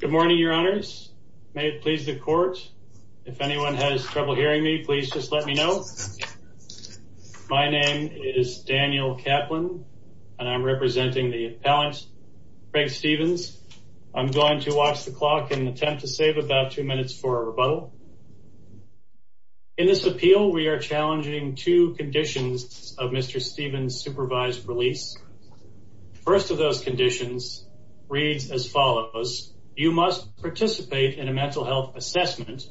Good morning, Your Honors. May it please the court. If anyone has trouble hearing me, please just let me know. My name is Daniel Kaplan, and I'm representing the appellant, Craig Stephens. I'm going to watch the clock and attempt to save about two minutes for a rebuttal. In this appeal, we are challenging two conditions of Mr. Stephens' supervised release. The first of those conditions reads as follows. You must participate in a mental health assessment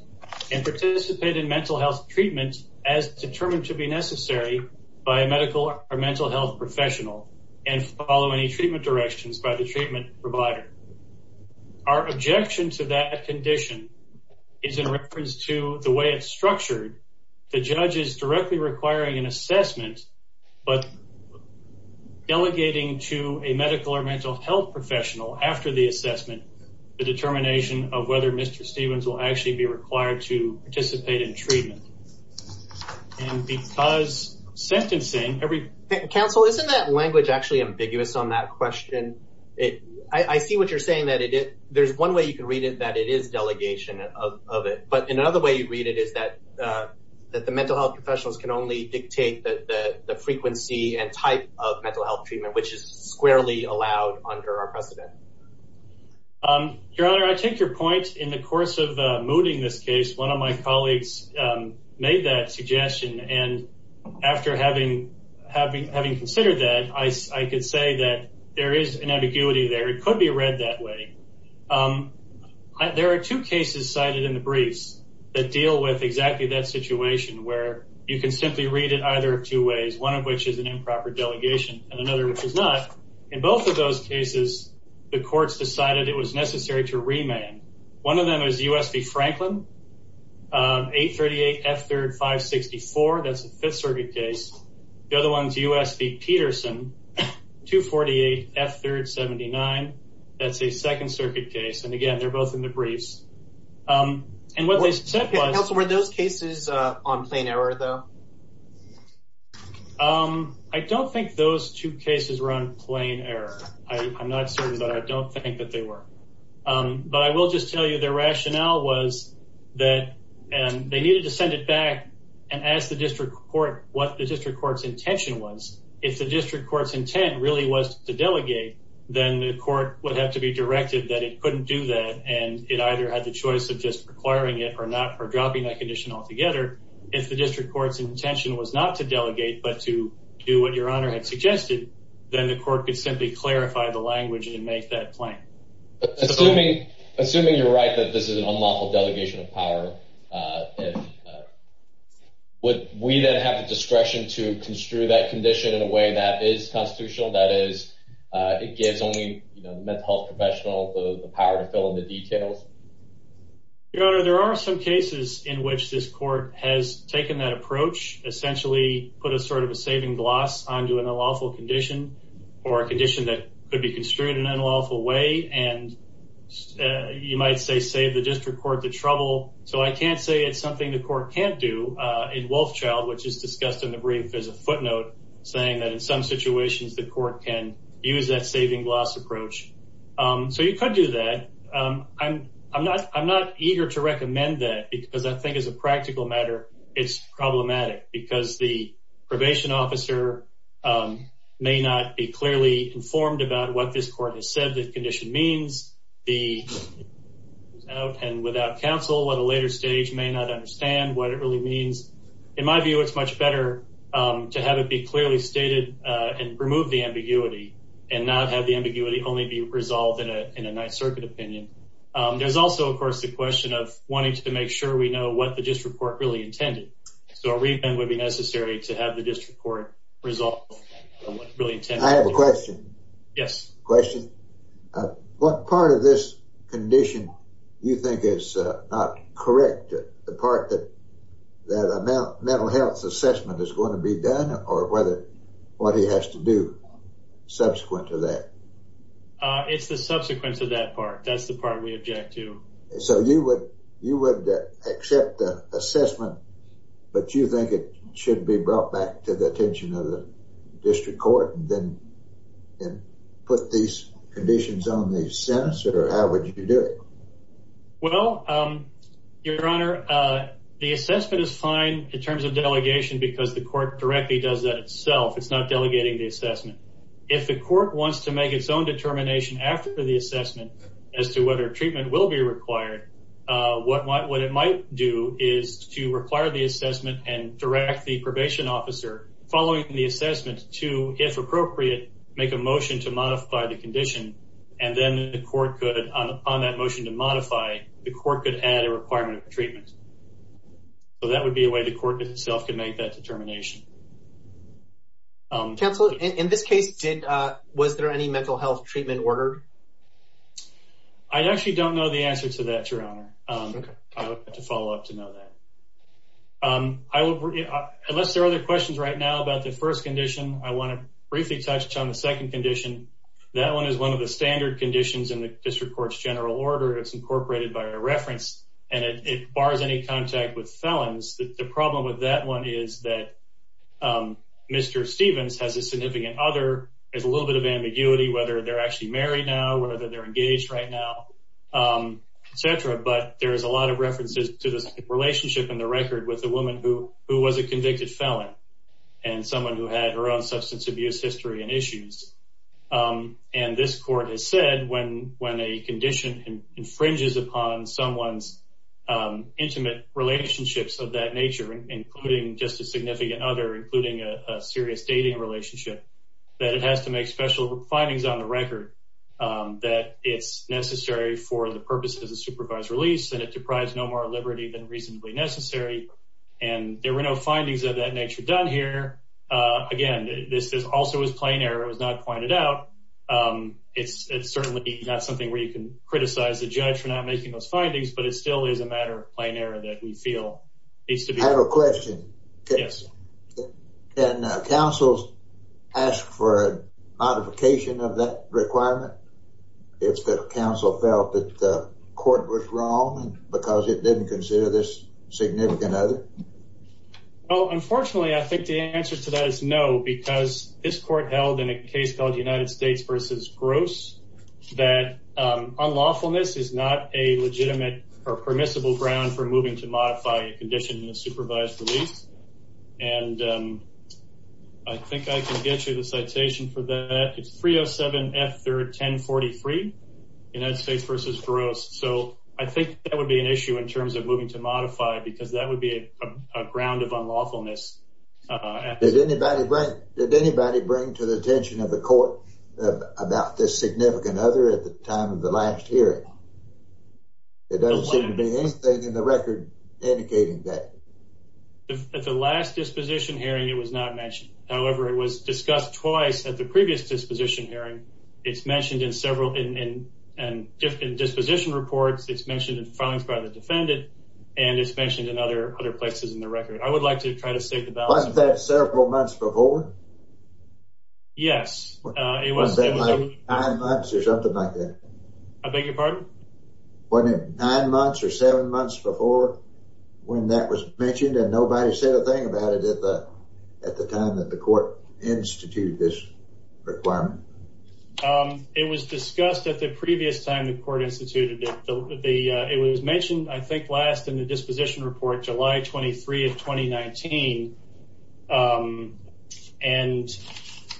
and participate in mental health treatment as determined to be necessary by a medical or mental health professional and follow any treatment directions by the treatment provider. Our objection to that condition is in reference to the way it's structured. The judge is directly requiring an assessment, but delegating to a medical or mental health professional after the assessment the determination of whether Mr. Stephens will actually be required to participate in treatment. And because sentencing every... Daniel Kaplan Counsel, isn't that language actually ambiguous on that question? I see what you're saying, that there's one way you can read it, that it is delegation of it. But in another way you read it is that the mental health professionals can only dictate the frequency and type of mental health treatment, which is squarely allowed under our precedent. Your Honor, I take your point. In the course of mooting this case, one of my colleagues made that suggestion. And after having considered that, I could say that there is an ambiguity there. It could be read that way. There are two cases cited in the briefs that deal with exactly that situation, where you can simply read it either of two ways, one of which is an improper delegation and another which is not. In both of those cases, the courts decided it was necessary to remand. One of them is U.S. v. Franklin, 838 F3rd 564, that's a Fifth Circuit case. The other one is U.S. v. Peterson, 248 F3rd 79, that's a Second Circuit case. And again, they're both in the briefs. Counsel, were those cases on plain error, though? I don't think those two cases were on plain error. I'm not certain, but I don't think that they were. But I will just tell you their rationale was that they needed to send it back and ask the district court what the district court's intention was. If the district court's intent really was to delegate, then the court would have to be directed that it couldn't do that and it either had the choice of just requiring it or dropping that condition altogether. If the district court's intention was not to delegate but to do what Your Honor had suggested, then the court could simply clarify the language and make that claim. Assuming you're right that this is an unlawful delegation of power, would we then have the discretion to construe that condition in a way that is constitutional, that is, it gives only the mental health professional the power to fill in the details? Your Honor, there are some cases in which this court has taken that approach, essentially put a sort of a saving gloss onto an unlawful condition or a condition that could be construed in an unlawful way, and you might say save the district court the trouble. So I can't say it's something the court can't do. In Wolfchild, which is discussed in the brief, there's a footnote saying that in some situations the court can use that saving gloss approach. So you could do that. I'm not eager to recommend that because I think as a practical matter it's problematic because the probation officer may not be clearly informed about what this court has said the condition means. Without counsel at a later stage may not understand what it really means. In my view, it's much better to have it be clearly stated and remove the ambiguity and not have the ambiguity only be resolved in a Ninth Circuit opinion. There's also, of course, the question of wanting to make sure we know what the district court really intended. So a review would be necessary to have the district court resolve what it really intended. I have a question. Yes. Question. What part of this condition do you think is not correct? The part that a mental health assessment is going to be done or what he has to do? Subsequent to that. It's the subsequent to that part. That's the part we object to. So you would accept the assessment, but you think it should be brought back to the attention of the district court and then put these conditions on the sentence? Or how would you do it? Well, Your Honor, the assessment is fine in terms of delegation because the court directly does that itself. It's not delegating the assessment. If the court wants to make its own determination after the assessment as to whether treatment will be required, what it might do is to require the assessment and direct the probation officer, following the assessment, to, if appropriate, make a motion to modify the condition. And then the court could, on that motion to modify, the court could add a requirement of treatment. So that would be a way the court itself could make that determination. Counselor, in this case, was there any mental health treatment ordered? I actually don't know the answer to that, Your Honor. I would have to follow up to know that. Unless there are other questions right now about the first condition, I want to briefly touch on the second condition. That one is one of the standard conditions in the district court's general order. It's incorporated by a reference, and it bars any contact with felons. The problem with that one is that Mr. Stevens has a significant other. There's a little bit of ambiguity whether they're actually married now, whether they're engaged right now, et cetera. But there's a lot of references to the relationship in the record with the woman who was a convicted felon and someone who had her own substance abuse history and issues. And this court has said when a condition infringes upon someone's intimate relationships of that nature, including just a significant other, including a serious dating relationship, that it has to make special findings on the record that it's necessary for the purposes of supervised release and it deprives no more liberty than reasonably necessary. And there were no findings of that nature done here. Again, this also was plain error. It was not pointed out. It's certainly not something where you can criticize the judge for not making those findings, but it still is a matter of plain error that we feel needs to be— I have a question. Yes. Can councils ask for a modification of that requirement if the council felt that the court was wrong because it didn't consider this significant other? Well, unfortunately, I think the answer to that is no, because this court held in a case called United States v. Gross that unlawfulness is not a legitimate or permissible ground for moving to modify a condition in a supervised release. And I think I can get you the citation for that. It's 307F1043, United States v. Gross. So I think that would be an issue in terms of moving to modify, because that would be a ground of unlawfulness. Did anybody bring to the attention of the court about this significant other at the time of the last hearing? There doesn't seem to be anything in the record indicating that. At the last disposition hearing, it was not mentioned. However, it was discussed twice at the previous disposition hearing. It's mentioned in several disposition reports. It's mentioned in filings by the defendant. And it's mentioned in other places in the record. I would like to try to state the balance. Wasn't that several months before? Yes. Wasn't it nine months or something like that? I beg your pardon? Wasn't it nine months or seven months before when that was mentioned and nobody said a thing about it at the time that the court instituted this requirement? It was discussed at the previous time the court instituted it. It was mentioned, I think, last in the disposition report, July 23 of 2019. And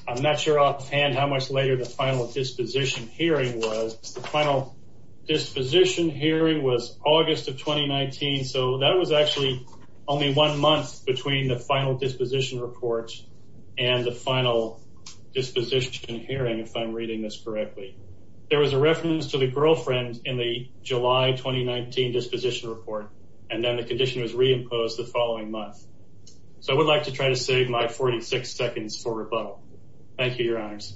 I'm not sure offhand how much later the final disposition hearing was. The final disposition hearing was August of 2019. So that was actually only one month between the final disposition report and the final disposition hearing, if I'm reading this correctly. There was a reference to the girlfriend in the July 2019 disposition report. And then the condition was reimposed the following month. So I would like to try to save my 46 seconds for rebuttal. Thank you, Your Honors.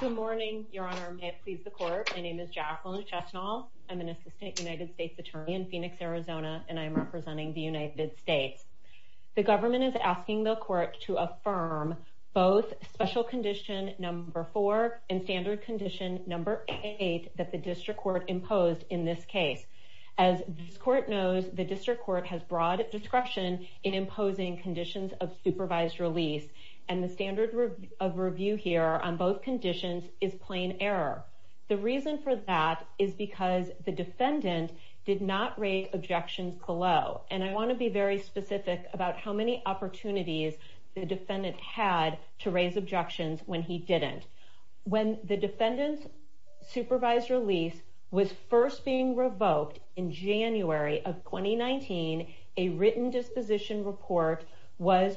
Good morning, Your Honor. May it please the Court. My name is Jacqueline Chesnall. I'm an assistant United States attorney in Phoenix, Arizona, and I'm representing the United States. The government is asking the Court to affirm both special condition number four and standard condition number eight that the district court imposed in this case. As this Court knows, the district court has broad discretion in imposing conditions of supervised release. And the standard of review here on both conditions is plain error. The reason for that is because the defendant did not raise objections below. And I want to be very specific about how many opportunities the defendant had to raise objections when he didn't. When the defendant's supervised release was first being revoked in January of 2019, a written disposition report was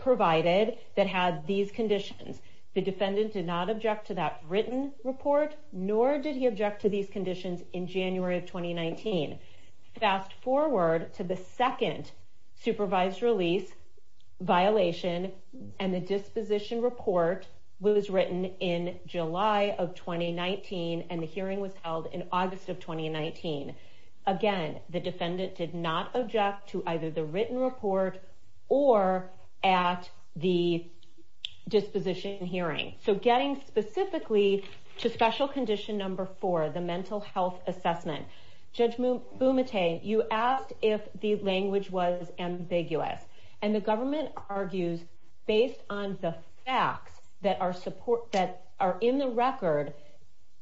provided that had these conditions. The defendant did not object to that written report, nor did he object to these conditions in January of 2019. Fast forward to the second supervised release violation, and the disposition report was written in July of 2019, and the hearing was held in August of 2019. Again, the defendant did not object to either the written report or at the disposition hearing. So getting specifically to special condition number four, the mental health assessment, Judge Bumate, you asked if the language was ambiguous. And the government argues, based on the facts that are in the record,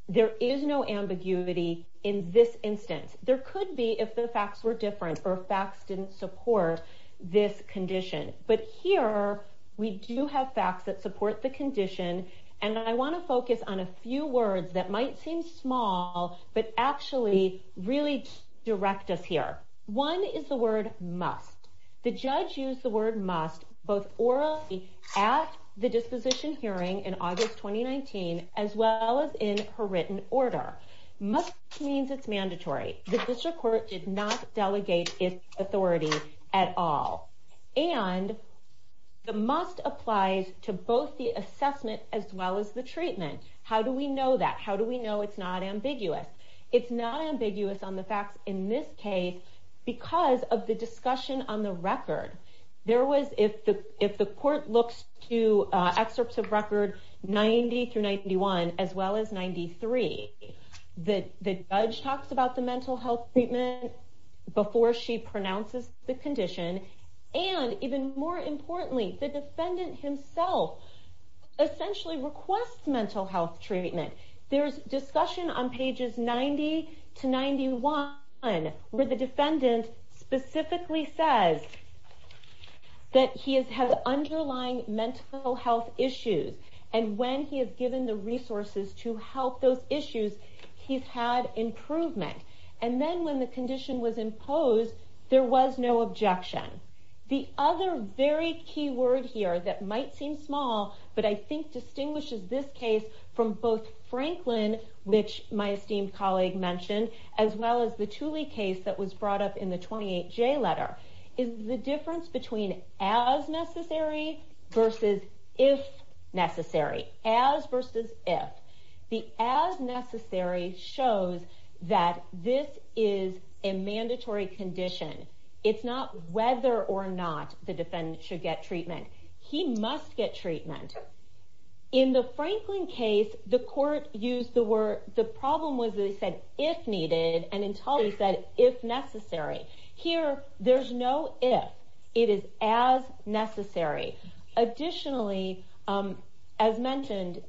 there is no ambiguity in this instance. There could be if the facts were different or facts didn't support this condition. But here we do have facts that support the condition. And I want to focus on a few words that might seem small, but actually really direct us here. One is the word must. The judge used the word must both orally at the disposition hearing in August 2019, as well as in her written order. Must means it's mandatory. The district court did not delegate its authority at all. And the must applies to both the assessment as well as the treatment. How do we know that? How do we know it's not ambiguous? It's not ambiguous on the facts in this case because of the discussion on the record. If the court looks to excerpts of record 90 through 91, as well as 93, the judge talks about the mental health treatment before she pronounces the condition. And even more importantly, the defendant himself essentially requests mental health treatment. There's discussion on pages 90 to 91 where the defendant specifically says that he has had underlying mental health issues. And when he is given the resources to help those issues, he's had improvement. And then when the condition was imposed, there was no objection. The other very key word here that might seem small, but I think distinguishes this case from both Franklin, which my esteemed colleague mentioned, as well as the Tooley case that was brought up in the 28J letter, is the difference between as necessary versus if necessary. As versus if. The as necessary shows that this is a mandatory condition. It's not whether or not the defendant should get treatment. He must get treatment. In the Franklin case, the court used the word... The problem was they said if needed, and in Tooley they said if necessary. Here, there's no if. It is as necessary. Additionally, as mentioned,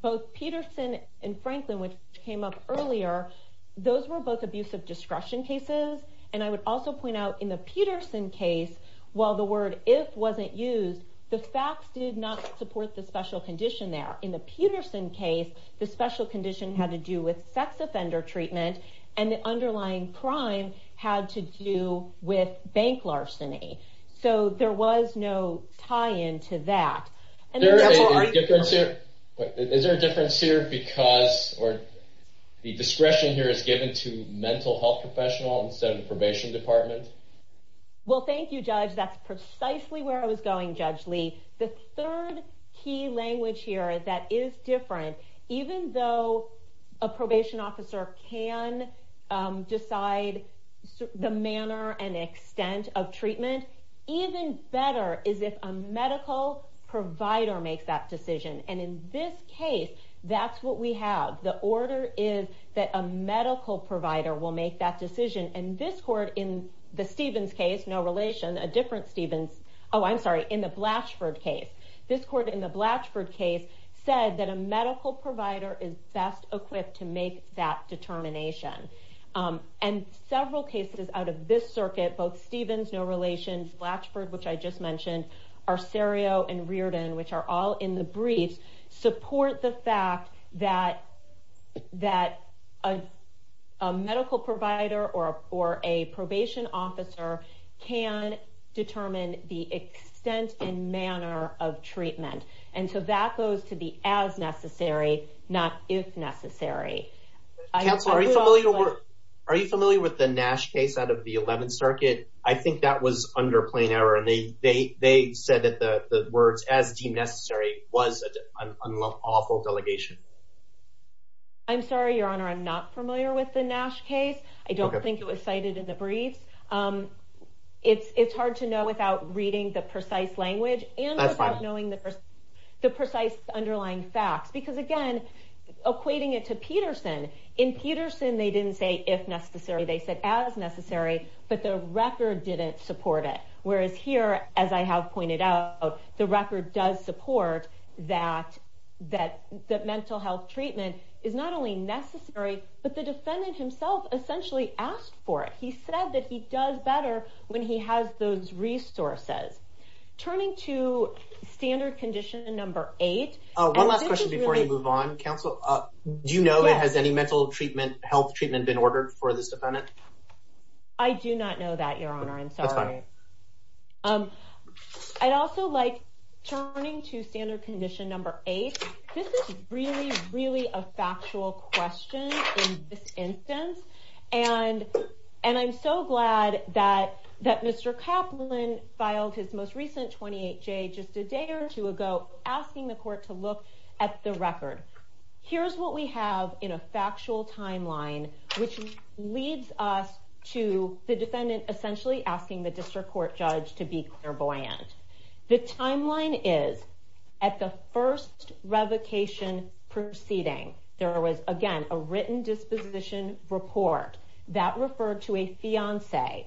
both Peterson and Franklin, which came up earlier, those were both abusive discretion cases. And I would also point out in the Peterson case, while the word if wasn't used, the facts did not support the special condition there. In the Peterson case, the special condition had to do with sex offender treatment, and the underlying crime had to do with bank larceny. So there was no tie-in to that. Is there a difference here because the discretion here is given to mental health professional instead of the probation department? Well, thank you, Judge. That's precisely where I was going, Judge Lee. The third key language here that is different, even though a probation officer can decide the manner and extent of treatment, even better is if a medical provider makes that decision. And in this case, that's what we have. The order is that a medical provider will make that decision. And this court in the Stevens case, no relation, a different Stevens... Oh, I'm sorry, in the Blatchford case, this court in the Blatchford case said that a medical provider is best equipped to make that determination. And several cases out of this circuit, both Stevens, no relations, Blatchford, which I just mentioned, Arcerio and Reardon, which are all in the briefs, support the fact that a medical provider or a probation officer can determine the extent and manner of treatment. And so that goes to the as necessary, not if necessary. Counsel, are you familiar with the Nash case out of the 11th circuit? I think that was under plain error. And they said that the words as deemed necessary was an awful delegation. I'm sorry, Your Honor, I'm not familiar with the Nash case. I don't think it was cited in the briefs. It's hard to know without reading the precise language and without knowing the precise underlying facts. Because again, equating it to Peterson, in Peterson they didn't say if necessary, they said as necessary, but the record didn't support it. Whereas here, as I have pointed out, the record does support that mental health treatment is not only necessary, but the defendant himself essentially asked for it. He said that he does better when he has those resources. Turning to standard condition number eight... One last question before we move on, Counsel. Do you know if any mental health treatment has been ordered for this defendant? I do not know that, Your Honor. I'm sorry. I'd also like, turning to standard condition number eight, this is really, really a factual question in this instance. And I'm so glad that Mr. Kaplan filed his most recent 28-J just a day or two ago, asking the court to look at the record. Here's what we have in a factual timeline, which leads us to the defendant essentially asking the district court judge to be clairvoyant. The timeline is, at the first revocation proceeding, there was, again, a written disposition report that referred to a fiancé.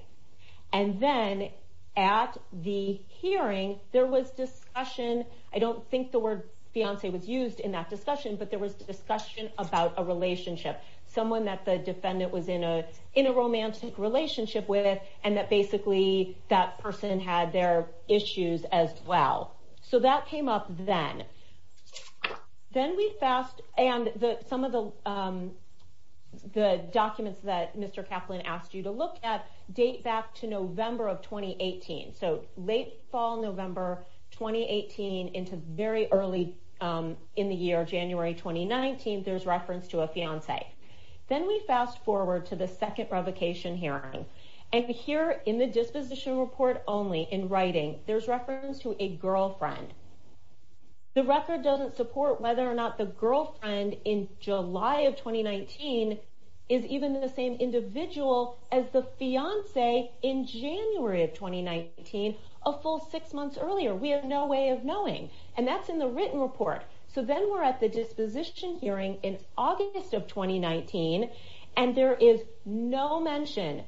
And then at the hearing, there was discussion. I don't think the word fiancé was used in that discussion, but there was discussion about a relationship. Someone that the defendant was in a romantic relationship with, and that basically that person had their issues as well. So that came up then. Then we fast, and some of the documents that Mr. Kaplan asked you to look at date back to November of 2018. So late fall November 2018 into very early in the year, January 2019, there's reference to a fiancé. Then we fast forward to the second revocation hearing. And here in the disposition report only, in writing, there's reference to a girlfriend. The record doesn't support whether or not the girlfriend in July of 2019 is even the same individual as the fiancé in January of 2019, a full six months earlier. We have no way of knowing. And that's in the written report. So then we're at the disposition hearing in August of 2019, and there is no mention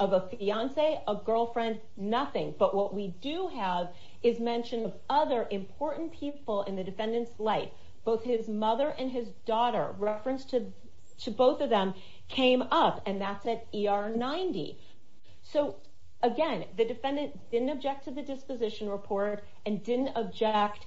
of a fiancé, a girlfriend, nothing. But what we do have is mention of other important people in the defendant's life. Both his mother and his daughter, reference to both of them, came up, and that's at ER 90. So again, the defendant didn't object to the disposition report and didn't object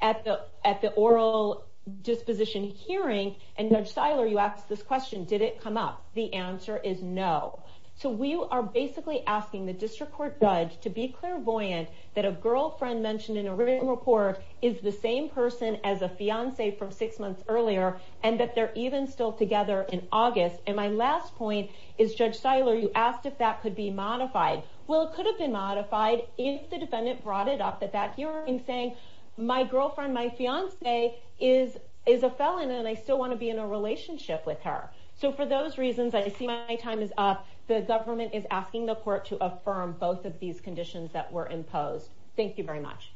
at the oral disposition hearing. And Judge Seiler, you asked this question, did it come up? The answer is no. So we are basically asking the district court judge to be clairvoyant that a girlfriend mentioned in a written report is the same person as a fiancé from six months earlier, and that they're even still together in August. And my last point is, Judge Seiler, you asked if that could be modified. Well, it could have been modified if the defendant brought it up at that hearing saying, my girlfriend, my fiancé, is a felon, and I still want to be in a relationship with her. So for those reasons, I see my time is up. The government is asking the court to affirm both of these conditions that were imposed. Thank you very much.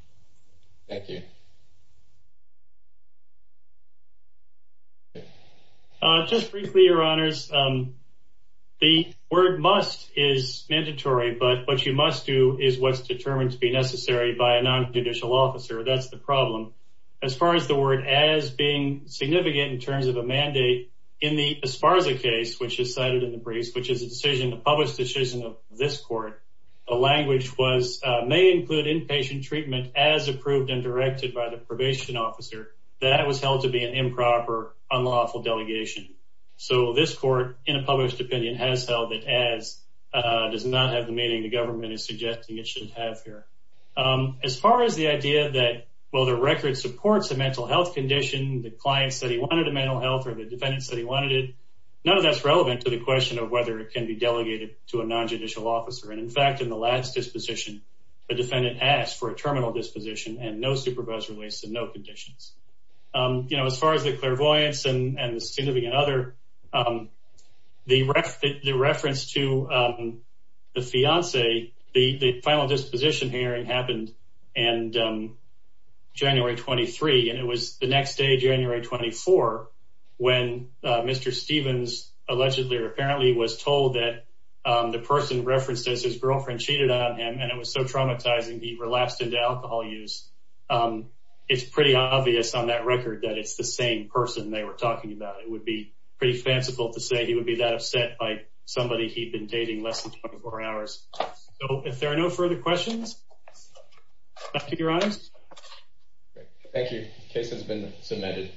Thank you. Just briefly, Your Honors, the word must is mandatory, but what you must do is what's determined to be necessary by a nonjudicial officer. That's the problem. As far as the word as being significant in terms of a mandate, in the Esparza case, which is cited in the briefs, which is a public decision of this court, the language may include inpatient treatment as approved and directed by the probation officer. That was held to be an improper, unlawful delegation. So this court, in a published opinion, has held it as does not have the meaning the government is suggesting it should have here. As far as the idea that, well, the record supports a mental health condition, the client said he wanted a mental health or the defendant said he wanted it. None of that's relevant to the question of whether it can be delegated to a nonjudicial officer. And, in fact, in the last disposition, the defendant asked for a terminal disposition and no supervisory release and no conditions. As far as the clairvoyance and the significant other, the reference to the fiance, the final disposition hearing happened and January 23. And it was the next day, January 24, when Mr. Stevens allegedly or apparently was told that the person referenced as his girlfriend cheated on him. And it was so traumatizing. He relapsed into alcohol use. It's pretty obvious on that record that it's the same person they were talking about. It would be pretty fanciful to say he would be that upset by somebody he'd been dating less than 24 hours. So if there are no further questions. Your Honor. Thank you. Case has been submitted.